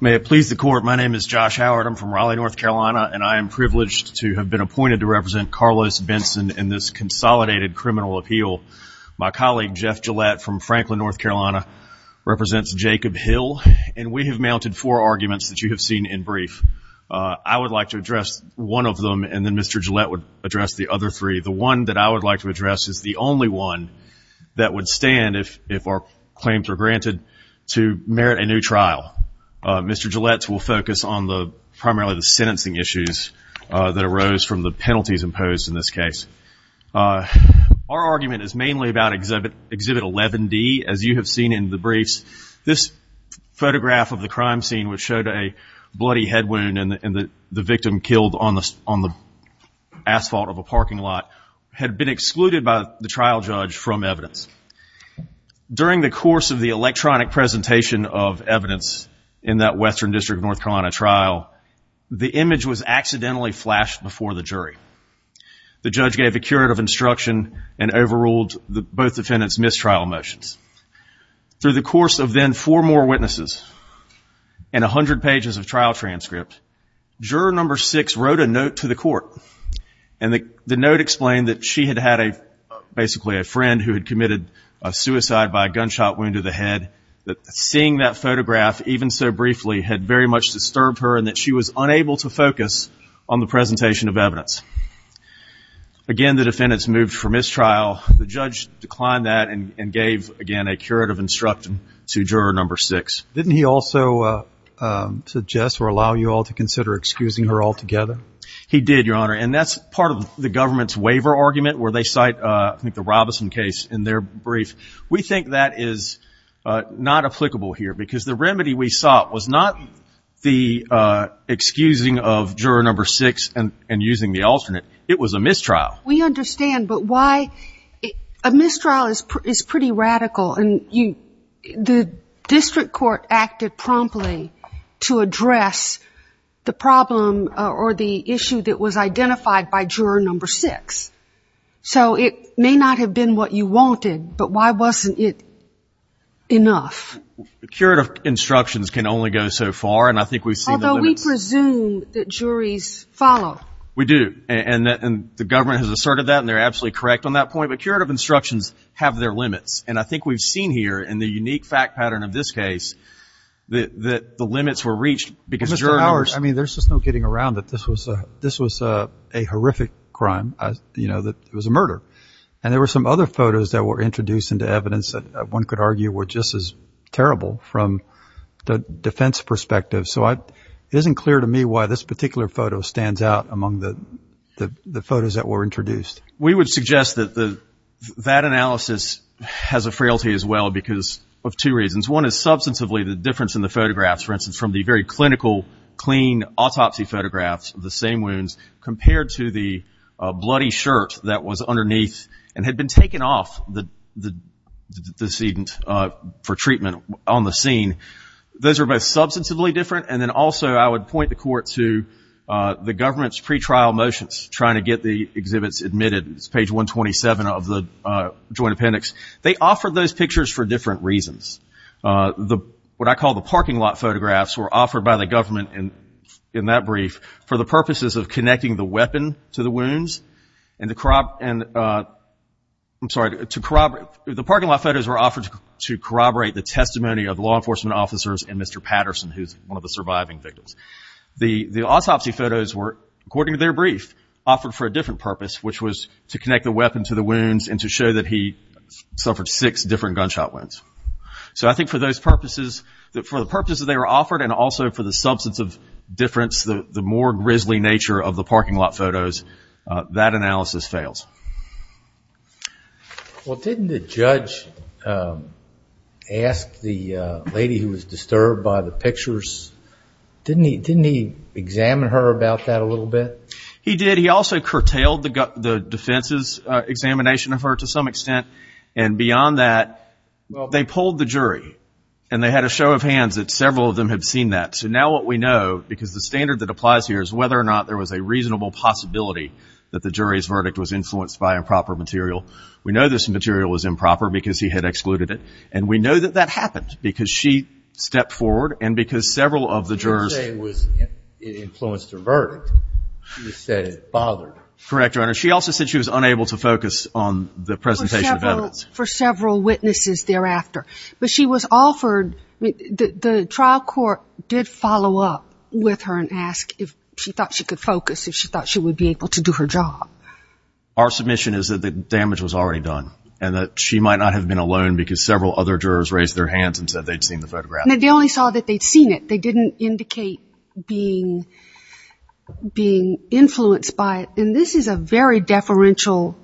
May it please the court, my name is Josh Howard. I'm from Raleigh, North Carolina, and I am privileged to have been appointed to represent Carlos Benson in this consolidated criminal appeal. My colleague, Jeff Gillette from Franklin, North Carolina, represents Jacob Hill, and we have mounted four arguments that you have seen in brief. I would like to address one of them, and then Mr. Gillette would address the other three. The one that I would like to address is the only one that would stand if our claims are granted to merit a new trial. Mr. Gillette will focus on the primarily the sentencing issues that arose from the penalties imposed in this case. Our argument is mainly about Exhibit 11-D. As you have seen in the briefs, this photograph of the crime scene which showed a bloody head wound and the victim killed on the asphalt of a judge from evidence. During the course of the electronic presentation of evidence in that Western District of North Carolina trial, the image was accidentally flashed before the jury. The judge gave a curative instruction and overruled both defendants' mistrial motions. Through the course of then four more witnesses and a hundred pages of trial transcript, juror number six wrote a note to the court, and the note explained that she had had basically a friend who had committed a suicide by a gunshot wound to the head, that seeing that photograph even so briefly had very much disturbed her and that she was unable to focus on the presentation of evidence. Again, the defendants moved for mistrial. The judge declined that and gave again a curative instruction to juror number six. Didn't he also suggest or allow you all to consider excusing her altogether? He did, Your Honor, and that's part of the government's waiver argument where they cite, I think, the Robeson case in their brief. We think that is not applicable here because the remedy we sought was not the excusing of juror number six and using the alternate. It was a mistrial. We understand, but why a mistrial is pretty radical and the District Court acted promptly to address the problem or the issue that was identified by juror number six. So it may not have been what you wanted, but why wasn't it enough? Curative instructions can only go so far, and I think we've seen the limits. Although we presume that juries follow. We do, and the government has asserted that and they're absolutely correct on that point, but curative instructions have their limits, and I think we've seen here in the unique fact pattern of this case that the limits were reached because jurors... Mr. Howard, I mean, there's just no getting around that this was a horrific crime, you know, that it was a murder, and there were some other photos that were introduced into evidence that one could argue were just as terrible from the defense perspective. So it isn't clear to me why this particular photo stands out among the photos that were introduced. We would suggest that that analysis has a difference in the photographs, for instance, from the very clinical, clean autopsy photographs of the same wounds compared to the bloody shirt that was underneath and had been taken off the decedent for treatment on the scene. Those are both substantively different, and then also I would point the Court to the government's pretrial motions trying to get the exhibits admitted. It's page 127 of the Joint Appendix. They offered those pictures for different reasons. What I call the parking lot photographs were offered by the government in that brief for the purposes of connecting the weapon to the wounds and the... I'm sorry, to corroborate... The parking lot photos were offered to corroborate the testimony of law enforcement officers and Mr. Patterson, who's one of the surviving victims. The autopsy photos were, according to their brief, offered for a different purpose, which was to connect the weapon to the wounds and to show that he suffered six different gunshot wounds. So I think for those purposes, for the purposes they were offered and also for the substance of difference, the more grisly nature of the parking lot photos, that analysis fails. Well, didn't the judge ask the lady who was disturbed by the pictures? Didn't he examine her about that a little bit? He did. He also curtailed the defense's examination of her to some extent. And beyond that, they pulled the jury and they had a show of hands that several of them had seen that. So now what we know, because the standard that applies here is whether or not there was a reasonable possibility that the jury's verdict was influenced by improper material. We know this material was improper because he had excluded it. And we know that that happened because she stepped forward and because several of the jurors... She said it bothered her. Correct, Your Honor. She also said she was unable to focus on the presentation of evidence. For several witnesses thereafter. But she was offered... The trial court did follow up with her and ask if she thought she could focus, if she thought she would be able to do her job. Our submission is that the damage was already done and that she might not have been alone because several other jurors raised their hands and said they'd seen the photograph. And they only saw that they'd seen it. They didn't indicate being influenced by it. And this is a very deferential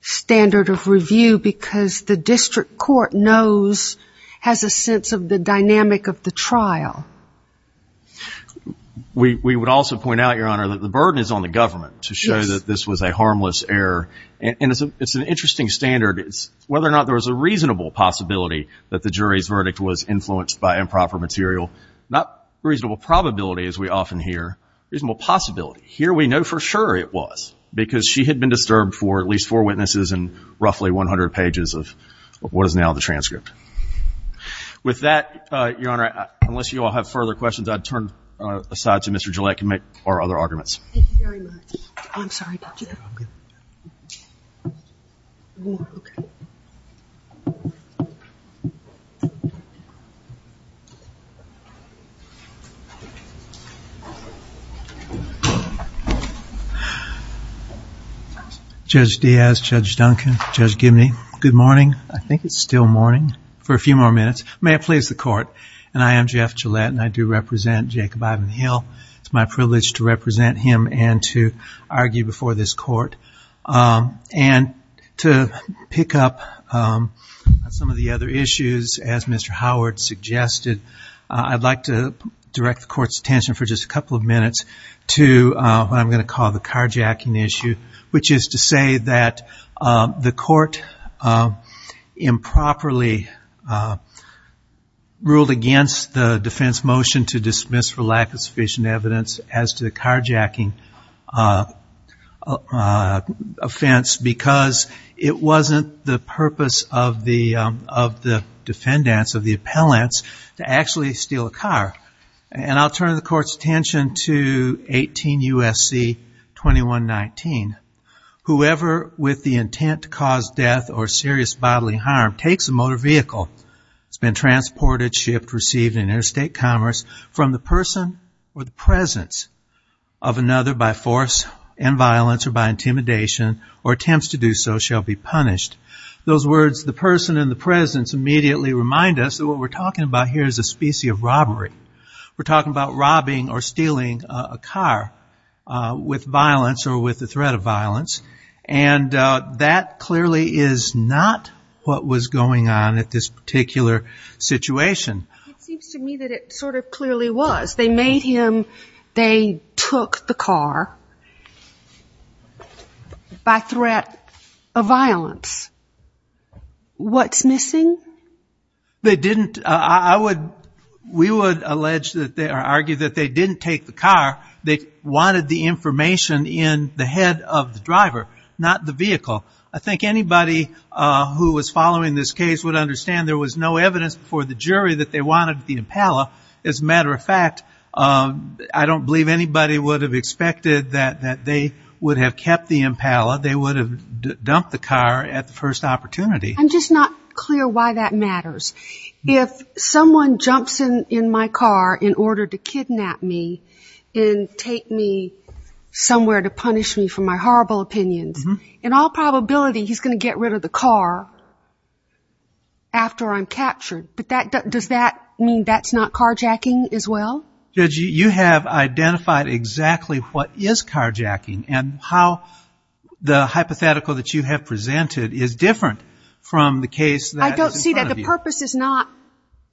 standard of review because the district court knows, has a sense of the dynamic of the trial. We would also point out, Your Honor, that the burden is on the government to show that this was a harmless error. And it's an interesting standard. It's whether or not there was a reasonable possibility that the jury's verdict was improper material. Not reasonable probability, as we often hear. Reasonable possibility. Here we know for sure it was. Because she had been disturbed for at least four witnesses and roughly 100 pages of what is now the transcript. With that, Your Honor, unless you all have further questions, I'd turn aside to Mr. Gillette to make our other arguments. Thank you very much. I'm sorry, Dr. Gillette. Judge Diaz, Judge Duncan, Judge Gibney, good morning. I think it's still morning for a few more minutes. May I please the court? And I am Jeff Gillette and I do represent Jacob Ivan Hill. It's my privilege to represent him and to argue before this court. And to pick up on some of the other issues, as Mr. Howard suggested, I'd like to direct the court's attention for just a couple of minutes to what I'm going to call the carjacking issue, which is to say that the court improperly ruled against the defense motion to dismiss for lack of sufficient evidence as to the offense because it wasn't the purpose of the defendants, of the appellants, to actually steal a car. And I'll turn the court's attention to 18 U.S.C. 2119. Whoever with the intent to cause death or serious bodily harm takes a motor vehicle that's been transported, shipped, received in interstate commerce from the person or the presence of another by force and violence or by intimidation or attempts to do so shall be punished. Those words, the person and the presence, immediately remind us that what we're talking about here is a specie of robbery. We're talking about robbing or stealing a car with violence or with the threat of violence. And that clearly is not what was going on at this particular situation. It seems to me that it sort of clearly was. They made him, they took the car. By threat of violence. What's missing? They didn't. I would, we would allege that they, or argue that they didn't take the car. They wanted the information in the head of the driver, not the vehicle. I think anybody who was following this case would understand there was no evidence before the jury that they wanted the appellant. As a matter of fact, I don't believe anybody would have expected that they would have kept the appellant. They would have dumped the car at the first opportunity. I'm just not clear why that matters. If someone jumps in my car in order to kidnap me and take me somewhere to punish me for my horrible opinions, in all probability he's going to get rid of the car after I'm captured. But does that mean that's not carjacking as well? Judge, you have identified exactly what is carjacking and how the hypothetical that you have presented is different from the case that is in front of you. I don't see that. The purpose is not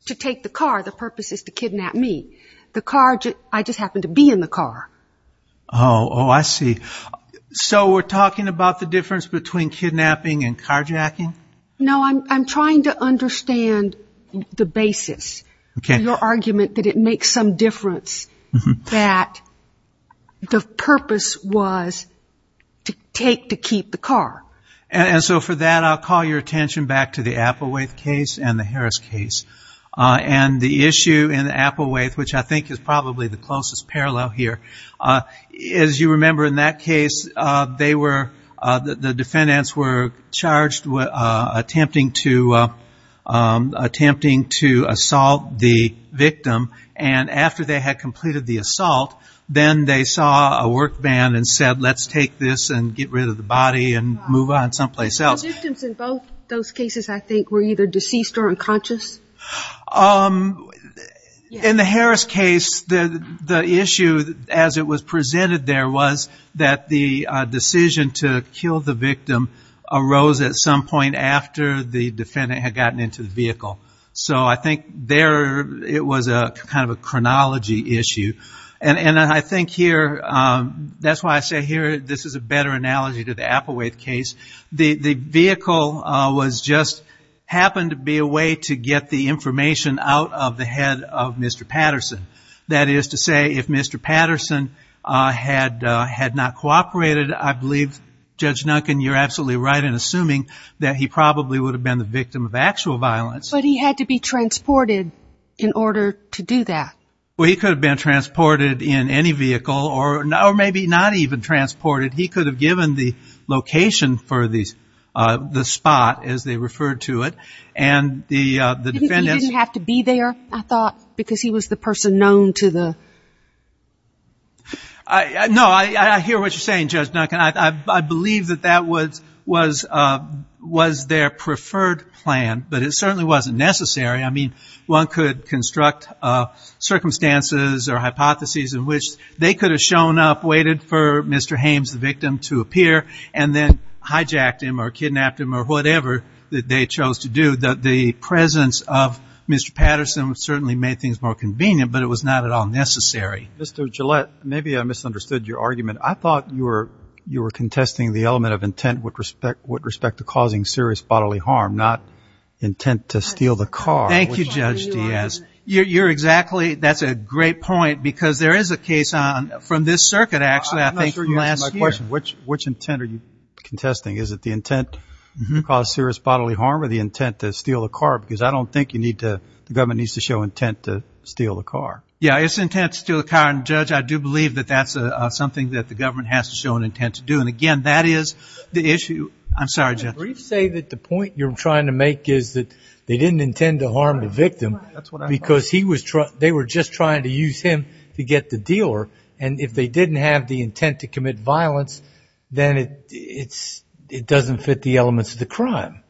to take the car. The purpose is to kidnap me. The car, I just happened to be in the car. Oh, oh, I see. So we're talking about the difference between kidnapping and carjacking? No, I'm trying to understand the basis of your argument that it makes some difference that the purpose was to take to keep the car. And so for that, I'll call your attention back to the Applewaith case and the Harris case. And the issue in Applewaith, which I think is probably the closest parallel here, as you remember in that case, the defendants were charged with attempting to assault the victim. And after they had completed the assault, then they saw a work van and said, let's take this and get rid of the body and move on someplace else. The victims in both those cases, I think, were either deceased or unconscious? In the Harris case, the issue as it was presented there was that the decision to kill the victim arose at some point after the defendant had gotten into the vehicle. So I think there, it was a kind of a chronology issue. And I think here, that's why I say here, this is a better analogy to the Applewaith case. The vehicle happened to be a way to get the information out of the head of Mr. Patterson. That is to say, if Mr. Patterson had, had not cooperated, I believe Judge Duncan, you're absolutely right in assuming that he probably would have been the victim of actual violence. But he had to be transported in order to do that. Well, he could have been transported in any vehicle or no, or maybe not even transported. He could have given the location for the, uh, the spot as they referred to it. And the, uh, he didn't have to be there, I thought, because he was the person known to the. I know. I hear what you're saying, Judge Duncan. I believe that that was, was, uh, was their preferred plan, but it certainly wasn't necessary. I mean, one could construct, uh, circumstances or hypotheses in which they could have shown up, waited for Mr. Haymes, the victim to appear, and then hijacked him or kidnapped him or whatever that they chose to do. The, the presence of Mr. Patterson certainly made things more convenient, but it was not at all necessary. Mr. Gillette, maybe I misunderstood your argument. I thought you were, you were contesting the element of intent with respect, with respect to causing serious bodily harm, not intent to steal the car. Thank you, Judge Diaz. You're, you're exactly, that's a great point because there is a case on from this circuit, actually, I think from last year. I'm not sure you answered my question. Which, which intent are you contesting? Is it the intent to cause serious bodily harm or the intent to steal the car? Because I don't think you need to, the government needs to show intent to steal the car. Yeah, it's intent to steal the car. And Judge, I do believe that that's something that the government has to show an intent to do. And again, that is the issue. I'm sorry, Judge. Can you say that the point you're trying to make is that they didn't intend to harm the victim because he was trying, they were just trying to use him to get the dealer. And if they didn't have the intent to commit violence, then it, it's, it doesn't fit the elements of the crime.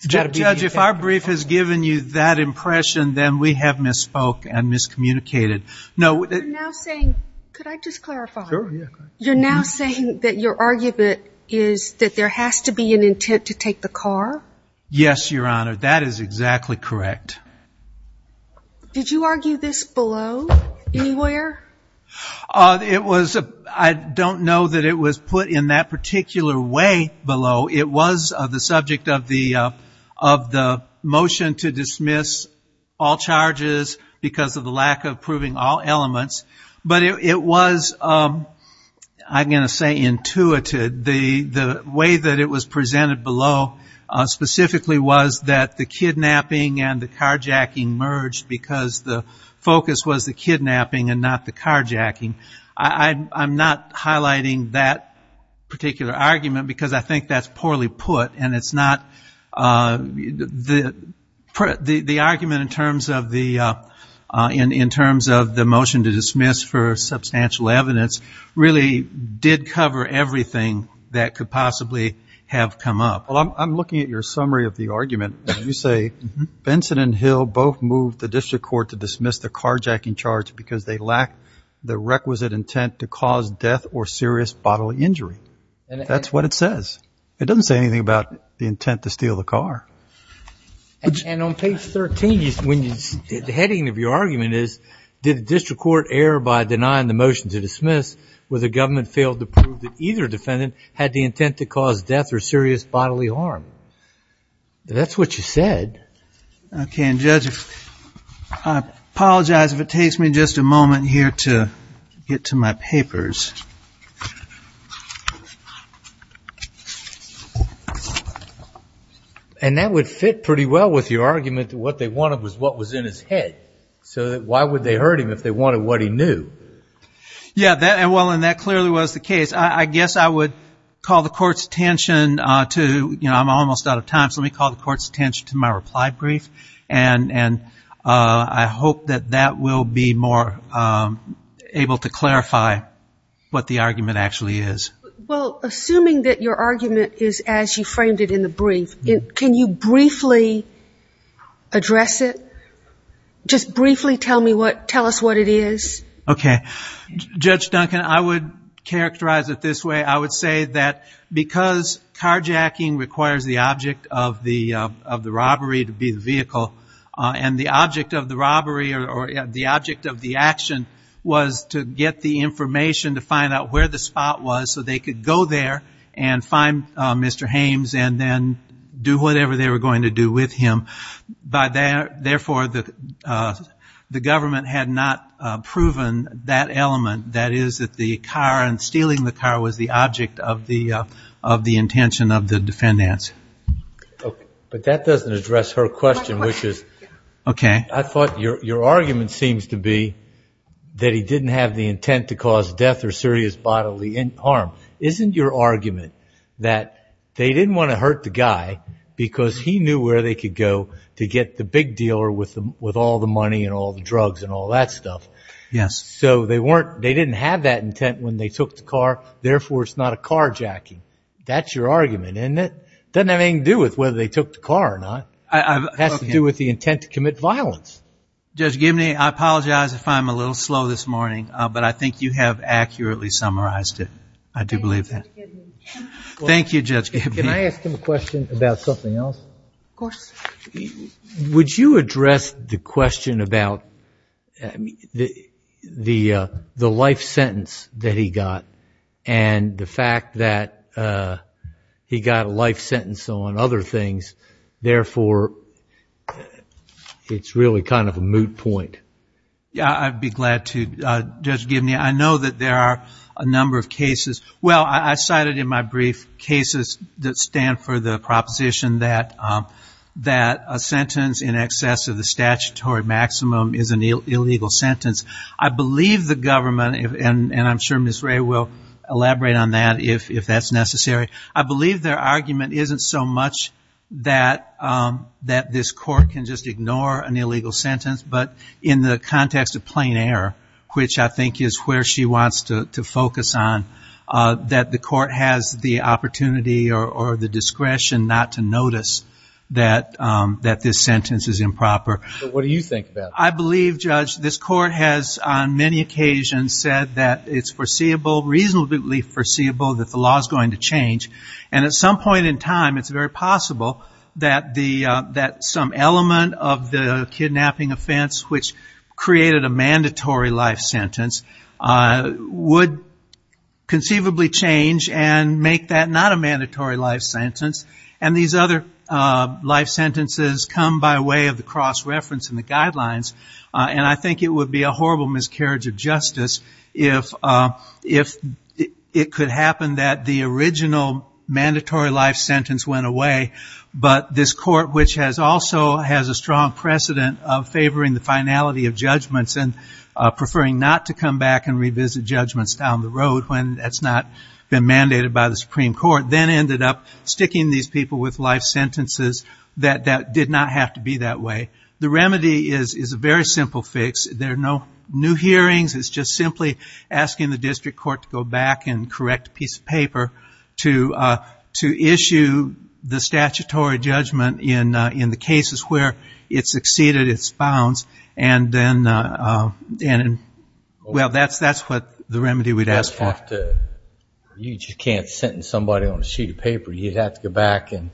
Judge, if our brief has given you that impression, then we have misspoke and miscommunicated. No. Could I just clarify? You're now saying that your argument is that there has to be an intent to take the car. Yes, Your Honor. That is exactly correct. Did you argue this below anywhere? It was, I don't know that it was put in that particular way below. It was the subject of the, of the motion to dismiss all charges because of the lack of proving all elements. But it was, I'm going to say intuited. The, the way that it was presented below specifically was that the kidnapping and the carjacking merged because the focus was the kidnapping and not the carjacking. I I'm not highlighting that particular argument because I think that's poorly put and it's not the, the, the argument in terms of the in, in terms of the motion to dismiss for substantial evidence really did cover everything that could possibly have come up. Well, I'm looking at your summary of the argument. You say Benson and Hill both moved the district court to dismiss the carjacking charge because they lack the requisite intent to cause death or serious bodily injury. And that's what it says. It doesn't say anything about the intent to steal the car. And on page 13, when you did, the heading of your argument is did the district court err by denying the motion to dismiss where the government failed to prove that either defendant had the intent to cause death or serious bodily harm? That's what you said. Okay. And judge, I apologize if it takes me just a moment here to get to my papers. And that would fit pretty well with your argument that what they wanted was what was in his head. So why would they hurt him if they wanted what he knew? Yeah, that, and well, and that clearly was the case. I guess I would call the court's attention to, you know, I'm almost out of time. So let me call the court's attention to my reply brief. And, and I hope that that will be more able to clarify what the argument actually is. Well, assuming that your argument is as you framed it in the brief, can you briefly address it? Just briefly tell me what, tell us what it is. Okay. Judge Duncan, I would characterize it this way. I would say that because carjacking requires the object of the of the robbery to be the vehicle and the object of the robbery or the object of the action was to get the information to find out where the spot was so they could go there and find Mr. Hames and then do whatever they were going to do with him by there. Therefore the the government had not proven that element. That is that the car and stealing the car was the object of the of the intention of the defendants. But that doesn't address her question, which is, okay. I thought your argument seems to be that he didn't have the intent to cause death or serious bodily harm. Isn't your argument that they didn't want to hurt the guy because he knew where they could go to get the big dealer with them with all the money and all the drugs and all that stuff. Yes. So they weren't, they didn't have that intent when they took the car. Therefore it's not a carjacking. That's your argument. And it doesn't have anything to do with whether they took the car or not. It has to do with the intent to commit violence. Judge Gibney, I apologize if I'm a little slow this morning, but I think you have accurately summarized it. I do believe that. Thank you, Judge. Can I ask him a question about something else? Of course. Would you address the question about the, the, the life sentence that he got and the fact that he got a life sentence on other things, therefore it's really kind of a moot point. Yeah, I'd be glad to. Judge Gibney, I know that there are a number of cases, well, I cited in my brief cases that stand for the proposition that that a sentence in excess of the statutory maximum is an illegal sentence. I believe the government and I'm sure Ms. Ray will elaborate on that if, if that's necessary. I believe their argument isn't so much that that this court can just ignore an illegal sentence, but in the context of plain air, which I think is where she wants to focus on that the court has the opportunity or the discretion not to notice that that this sentence is improper. What do you think about that? I believe Judge, this court has on many occasions said that it's foreseeable, reasonably foreseeable that the law is going to change. And at some point in time, it's very possible that the that some element of the kidnapping offense, which created a mandatory life sentence would conceivably change and make that not a mandatory life sentence. And these other life sentences come by way of the cross reference and the guidelines. And I think it would be a horrible miscarriage of justice if if it could happen that the original mandatory life sentence went away. But this court, which has also has a strong precedent of favoring the finality of judgments and preferring not to come back and revisit judgments down the road when it's not been mandated by the Supreme Court, then ended up sticking these people with life sentences that that did not have to be that way. The remedy is, is a very simple fix. There are no new hearings. It's just simply asking the district court to go back and correct a piece of paper to to issue the statutory judgment in in the cases where it's exceeded its bounds. And then and well that's, that's what the remedy we'd ask for. You just can't sentence somebody on a sheet of paper. You'd have to go back and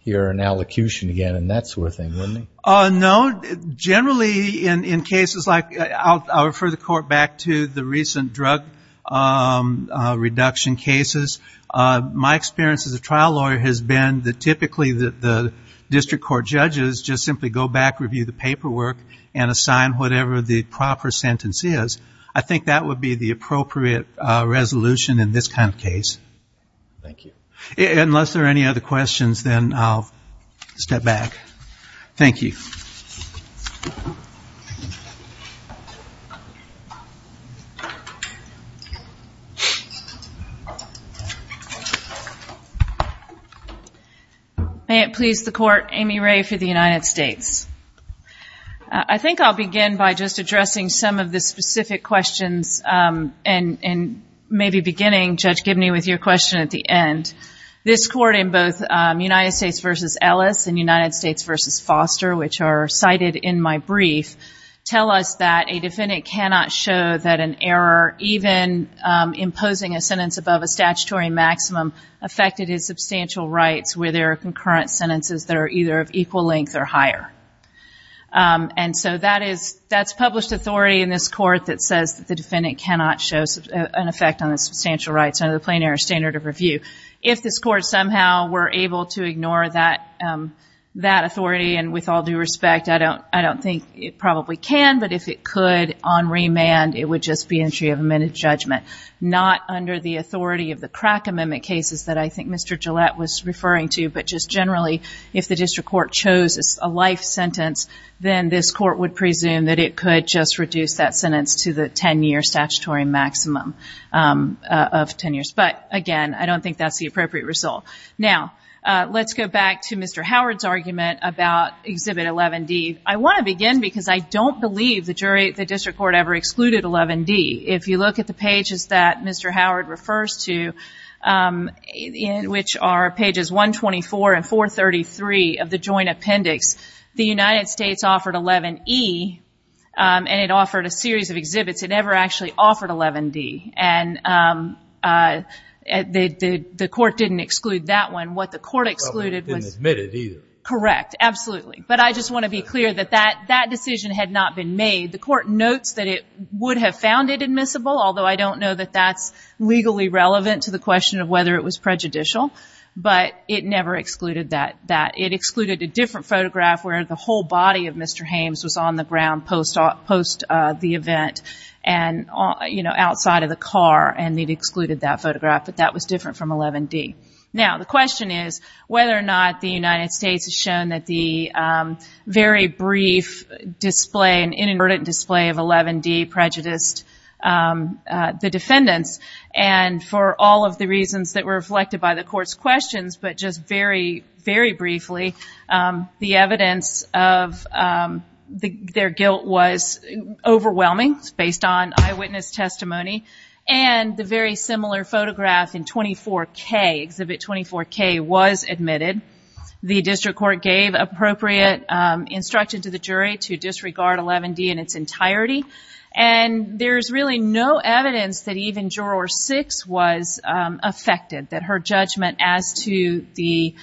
hear an allocution again and that sort of thing, wouldn't it? No, generally in in cases like I'll, I'll refer the court back to the recent drug reduction cases. My experience as a trial lawyer has been that typically that the district court judges just simply go back, review the paperwork and assign whatever the proper sentence is. I think that would be the appropriate resolution in this kind of case. Thank you. Unless there are any other questions, then I'll step back. Thank you. May it please the court, Amy Ray for the United States. I think I'll begin by just addressing some of the specific questions and and maybe beginning Judge Gibney with your question at the end. This court in both United States versus Ellis and United States versus Foster, which are cited in my brief, tell us that a defendant cannot show that an error even imposing a sentence above a statutory maximum affected his substantial rights where there are concurrent sentences that are either of equal length or higher. And so that is, that's published authority in this court that says that the defendant cannot show an effect on the substantial rights under the plain error standard of review. If this court somehow were able to ignore that that authority and with all due respect, I don't, I don't think it probably can, but if it could on remand, it would just be entry of amended judgment, not under the authority of the crack amendment cases that I think Mr. Gillette was referring to. But just generally if the district court chose a life sentence, then this court would presume that it could just reduce that sentence to the 10 year statutory maximum of 10 years. But again, I don't think that's the appropriate result. Now let's go back to Mr. Howard's argument about Exhibit 11D. I want to begin because I don't believe the jury, the district court ever excluded 11D. If you look at the pages that Mr. Howard refers to, which are pages 124 and 433 of the joint appendix, the United States offered 11E and it offered a series of exhibits. It never actually offered 11D. And the court didn't exclude that one. What the court excluded was, correct. Absolutely. But I just want to be clear that that, that decision had not been made. The court notes that it would have found it admissible, although I don't know that that's legally relevant to the question of whether it was prejudicial, but it never excluded that, that it excluded a different photograph where the whole body of Mr. Hames was on the ground post the event and you know, outside of the car and it excluded that photograph, but that was different from 11D. Now, the question is whether or not the United States has shown that the very brief display, an inadvertent display of 11D prejudiced the defendants. And for all of the reasons that were reflected by the court's questions, but just very, very briefly the evidence of their guilt was overwhelming based on eyewitness testimony and the very similar photograph in 24K, exhibit 24K was admitted. The district court gave appropriate instruction to the jury to disregard 11D in its entirety. And there's really no evidence that even juror six was affected, that her judgment as to the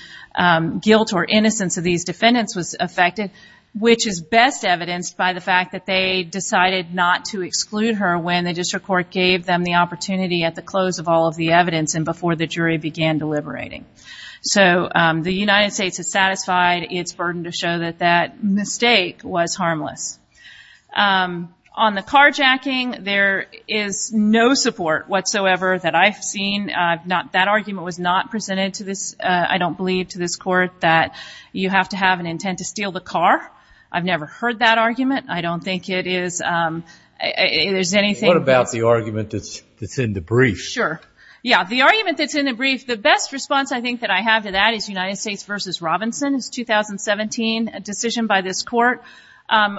guilt or innocence of these defendants was affected, which is best evidenced by the fact that they decided not to exclude her when the district court gave them the opportunity at the close of all of the evidence and before the jury began deliberating. So the United States has satisfied its burden to show that that mistake was harmless. On the carjacking, there is no support whatsoever that I've seen. I've not, that argument was not presented to this. I don't believe to this court that you have to have an intent to steal the car. I've never heard that argument. I don't think it is. There's anything. What about the argument that's in the brief? Sure. Yeah. The argument that's in the brief, the best response I think that I have to that is United States versus Robinson. It's 2017, a decision by this court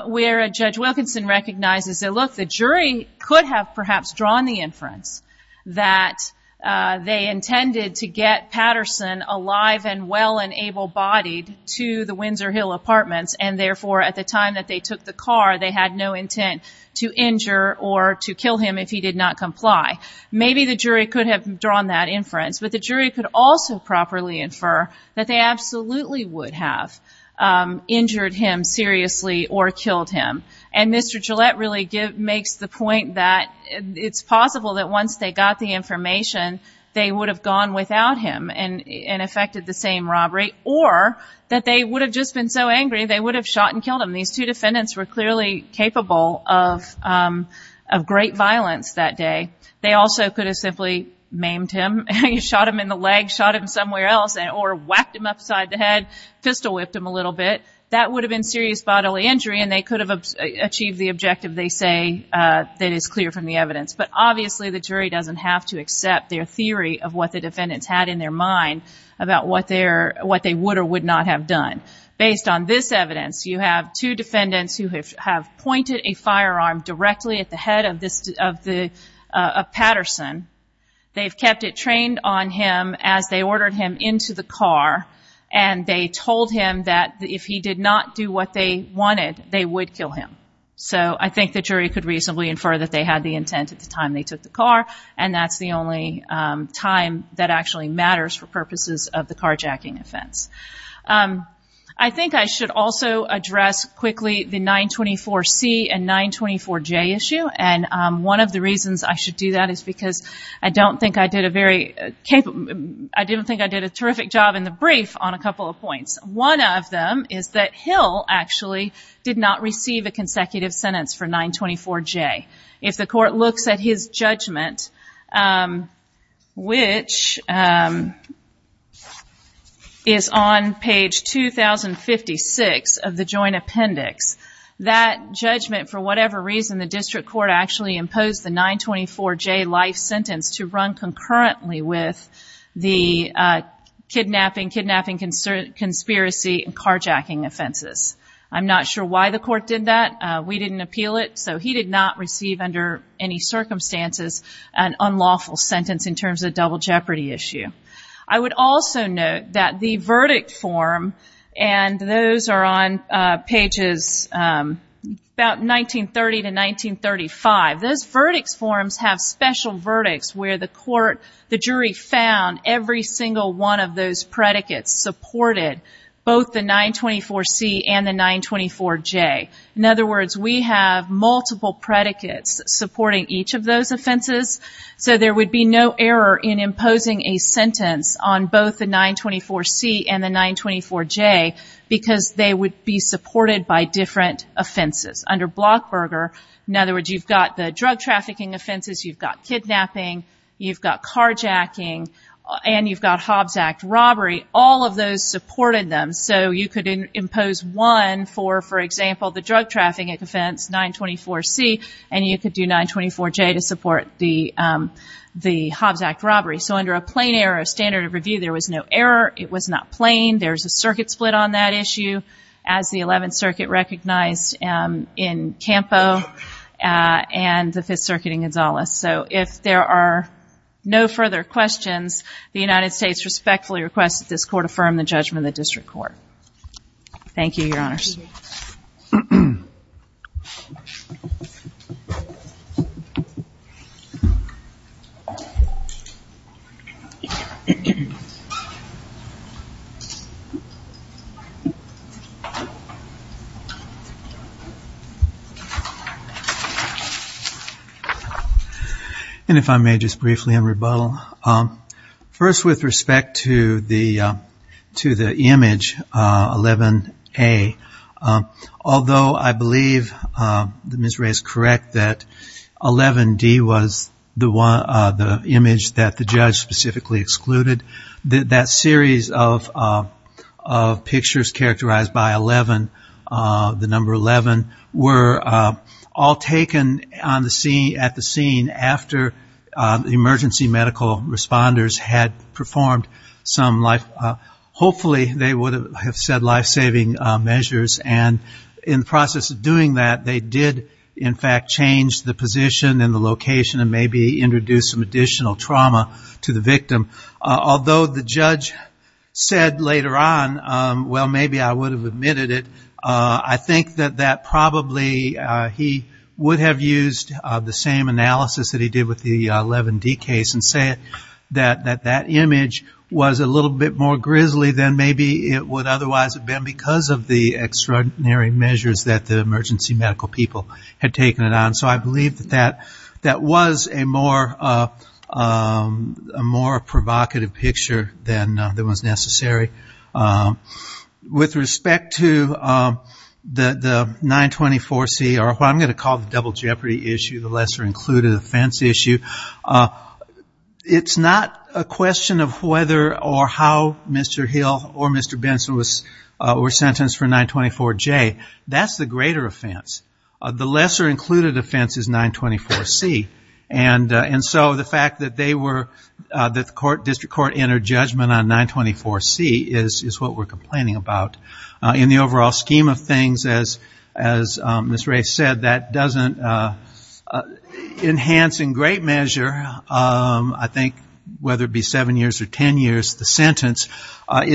where a judge Wilkinson recognizes that, look, the jury could have perhaps drawn the inference that they intended to get Patterson alive and well and able bodied to the Windsor Hill apartments. And therefore, at the time that they took the car, they had no intent to injure or to kill him if he did not comply. Maybe the jury could have drawn that inference, but the jury could also properly infer that they absolutely would have injured him seriously or killed him. And Mr. Gillette really give makes the point that it's possible that once they got the information, they would have gone without him and, and affected the same robbery or that they would have just been so angry. They would have shot and killed him. These two defendants were clearly capable of of great violence that day. They also could have simply maimed him and shot him in the leg, shot him somewhere else or whacked him upside the head, pistol whipped him a little bit. That would have been serious bodily injury and they could have achieved the objective they say that is clear from the evidence. But obviously the jury doesn't have to accept their theory of what the defendants had in their mind about what they would or would not have done. Based on this evidence, you have two defendants who have pointed a firearm directly at the head of the Patterson. They've kept it trained on him as they ordered him into the car and they told him that if he did not do what they wanted, they would kill him. So I think the jury could reasonably infer that they had the intent at the time they took the car. And that's the only time that actually matters for purposes of the carjacking offense. I think I should also address quickly the 924C and 924J issue. And one of the reasons I should do that is because I don't think I did a very capable, I didn't think I did a terrific job in the brief on a couple of points. One of them is that Hill actually did not receive a consecutive sentence for 924J. If the court looks at his judgment, which is on page 2056 of the joint appendix, that judgment, for whatever reason, the district court actually imposed the 924J life sentence to run concurrently with the kidnapping, kidnapping conspiracy and carjacking offenses. I'm not sure why the court did that. We didn't appeal it. So he did not receive under any circumstances an unlawful sentence in terms of double jeopardy issue. I would also note that the verdict form, and those are on pages about 1930 to 1935, those verdicts forms have special verdicts where the court, the jury found every single one of those predicates supported both the 924C and the 924J. In other words, we have multiple predicates supporting each of those offenses. So there would be no error in imposing a sentence on both the 924C and the 924J because they would be supported by different offenses. Under Blockburger, in other words, you've got the drug trafficking offenses, you've got kidnapping, you've got carjacking, and you've got Hobbs Act robbery. All of those supported them. So you could impose one for, for example, the drug trafficking offense, 924C, and you could do 924J to support the Hobbs Act robbery. So under a plain error standard of review, there was no error. It was not plain. There's a circuit split on that issue. As the 11th circuit recognized in Campo and the 5th circuit in Gonzalez. So if there are no further questions, the United States respectfully requests that this court affirm the judgment of the district court. Thank you, Your Honors. And if I may just briefly in rebuttal, first with respect to the, to the image 11A, although I believe Ms. Ray is correct that 11D was the one, the image that the judge specifically excluded, that that series of pictures characterized by 11, the number 11 were all taken on the scene, at the scene after the emergency medical responders had performed some life, hopefully they would have said lifesaving measures. And in the process of doing that, they did in fact change the position and the location and maybe introduce some additional trauma to the victim. Although the judge said later on, well, maybe I would have admitted it. I think that that probably, he would have used the same analysis that he did with the 11D case and say that that image was a little bit more grisly than maybe it would otherwise have been because of the extraordinary measures that the emergency medical people had taken it on. So I believe that that, that was a more, a more provocative picture than that was necessary. With respect to the 924C or what I'm going to call the double jeopardy issue, the lesser included offense issue. It's not a question of whether or how Mr. Hill or Mr. Benson was, were sentenced for 924J. That's the greater offense. The lesser included offense is 924C. And so the fact that they were, that the court district court entered judgment on 924C is what we're complaining about. In the overall scheme of things, as Ms. Ray said, that doesn't enhance in great measure, it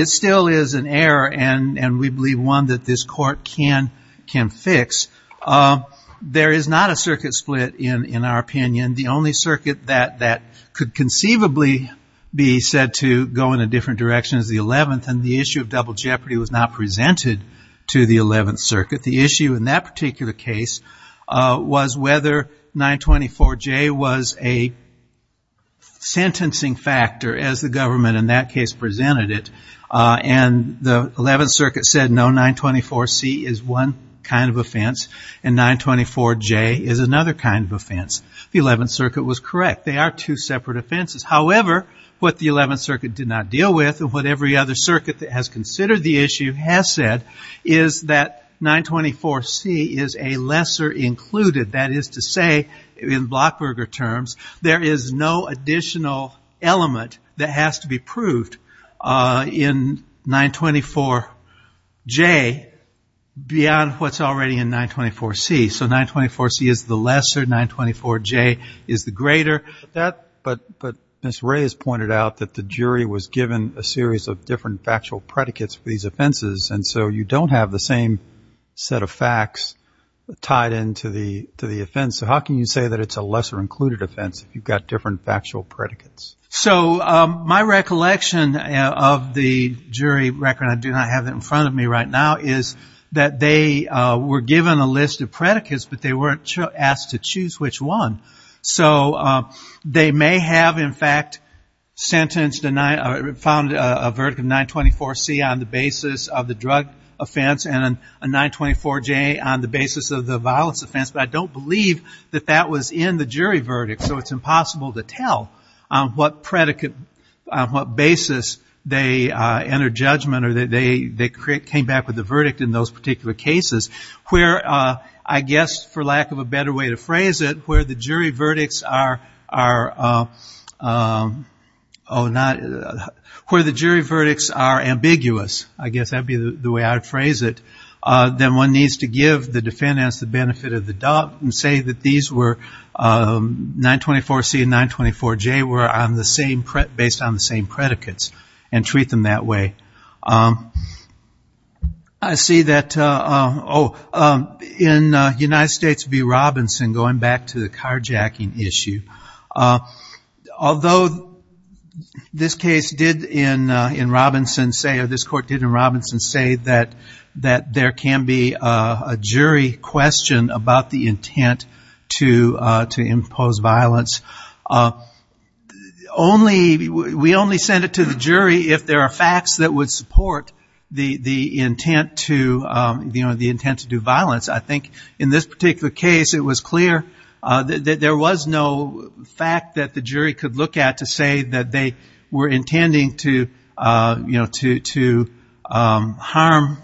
still is an error. And we believe one that this court can fix. There is not a circuit split in our opinion. The only circuit that could conceivably be said to go in a different direction is the 11th. And the issue of double jeopardy was not presented to the 11th circuit. The issue in that particular case was whether 924J was a sentencing factor, as the government in that case presented it. And the 11th circuit said no, 924C is one kind of offense and 924J is another kind of offense. The 11th circuit was correct. They are two separate offenses. However, what the 11th circuit did not deal with and what every other circuit that has considered the issue has said is that 924C is a lesser included. That is to say in Blockberger terms, there is no additional element that has to be proved in 924J beyond what's already in 924C. So 924C is the lesser, 924J is the greater. But Ms. Ray has pointed out that the jury was given a series of different factual predicates for these offenses. And so you don't have the same set of facts tied into the offense. So how can you say that it's a lesser included offense if you've got different factual predicates? So my recollection of the jury record, I do not have that in front of me right now, is that they were given a list of predicates, but they weren't asked to choose which one. So they may have in fact sentenced, found a verdict of 924C on the basis of the drug offense and a 924J on the violence offense, but I don't believe that that was in the jury verdict. So it's impossible to tell on what basis they entered judgment or they came back with a verdict in those particular cases where I guess, for lack of a better way to phrase it, where the jury verdicts are, where the jury verdicts are ambiguous, I guess that'd be the way I'd phrase it, then one needs to give the defendant the benefit of the doubt and say that these were 924C and 924J were based on the same predicates and treat them that way. I see that in United States v. Robinson, going back to the carjacking issue, although this case did in Robinson say, or this court did in Robinson say that there can be a jury question about the intent to impose violence. We only send it to the jury if there are facts that would support the intent to do violence. I think in this particular case, it was clear that there was no fact that the jury could look at to say that they were intending to harm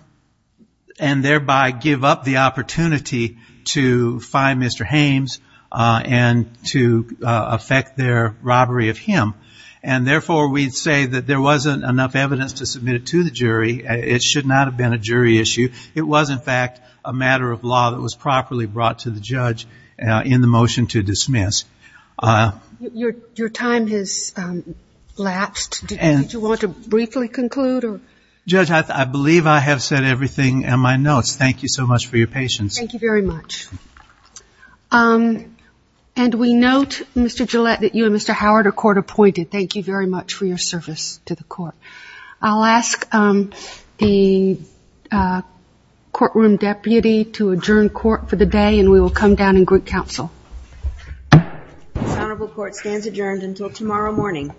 and thereby give up the opportunity to find Mr. Hames and to affect their robbery of him. And therefore we'd say that there wasn't enough evidence to submit it to the jury. It should not have been a jury issue. It was in fact a matter of law that was properly brought to the judge in the motion to dismiss. Your time has lapsed. Did you want to briefly conclude or? Judge, I believe I have said everything in my notes. Thank you so much for your patience. Thank you very much. And we note Mr. Gillette that you and Mr. Howard are court appointed. Thank you very much for your service to the court. I'll ask the courtroom deputy to adjourn court for the day and we will come down and group council. Honorable court stands adjourned until tomorrow morning.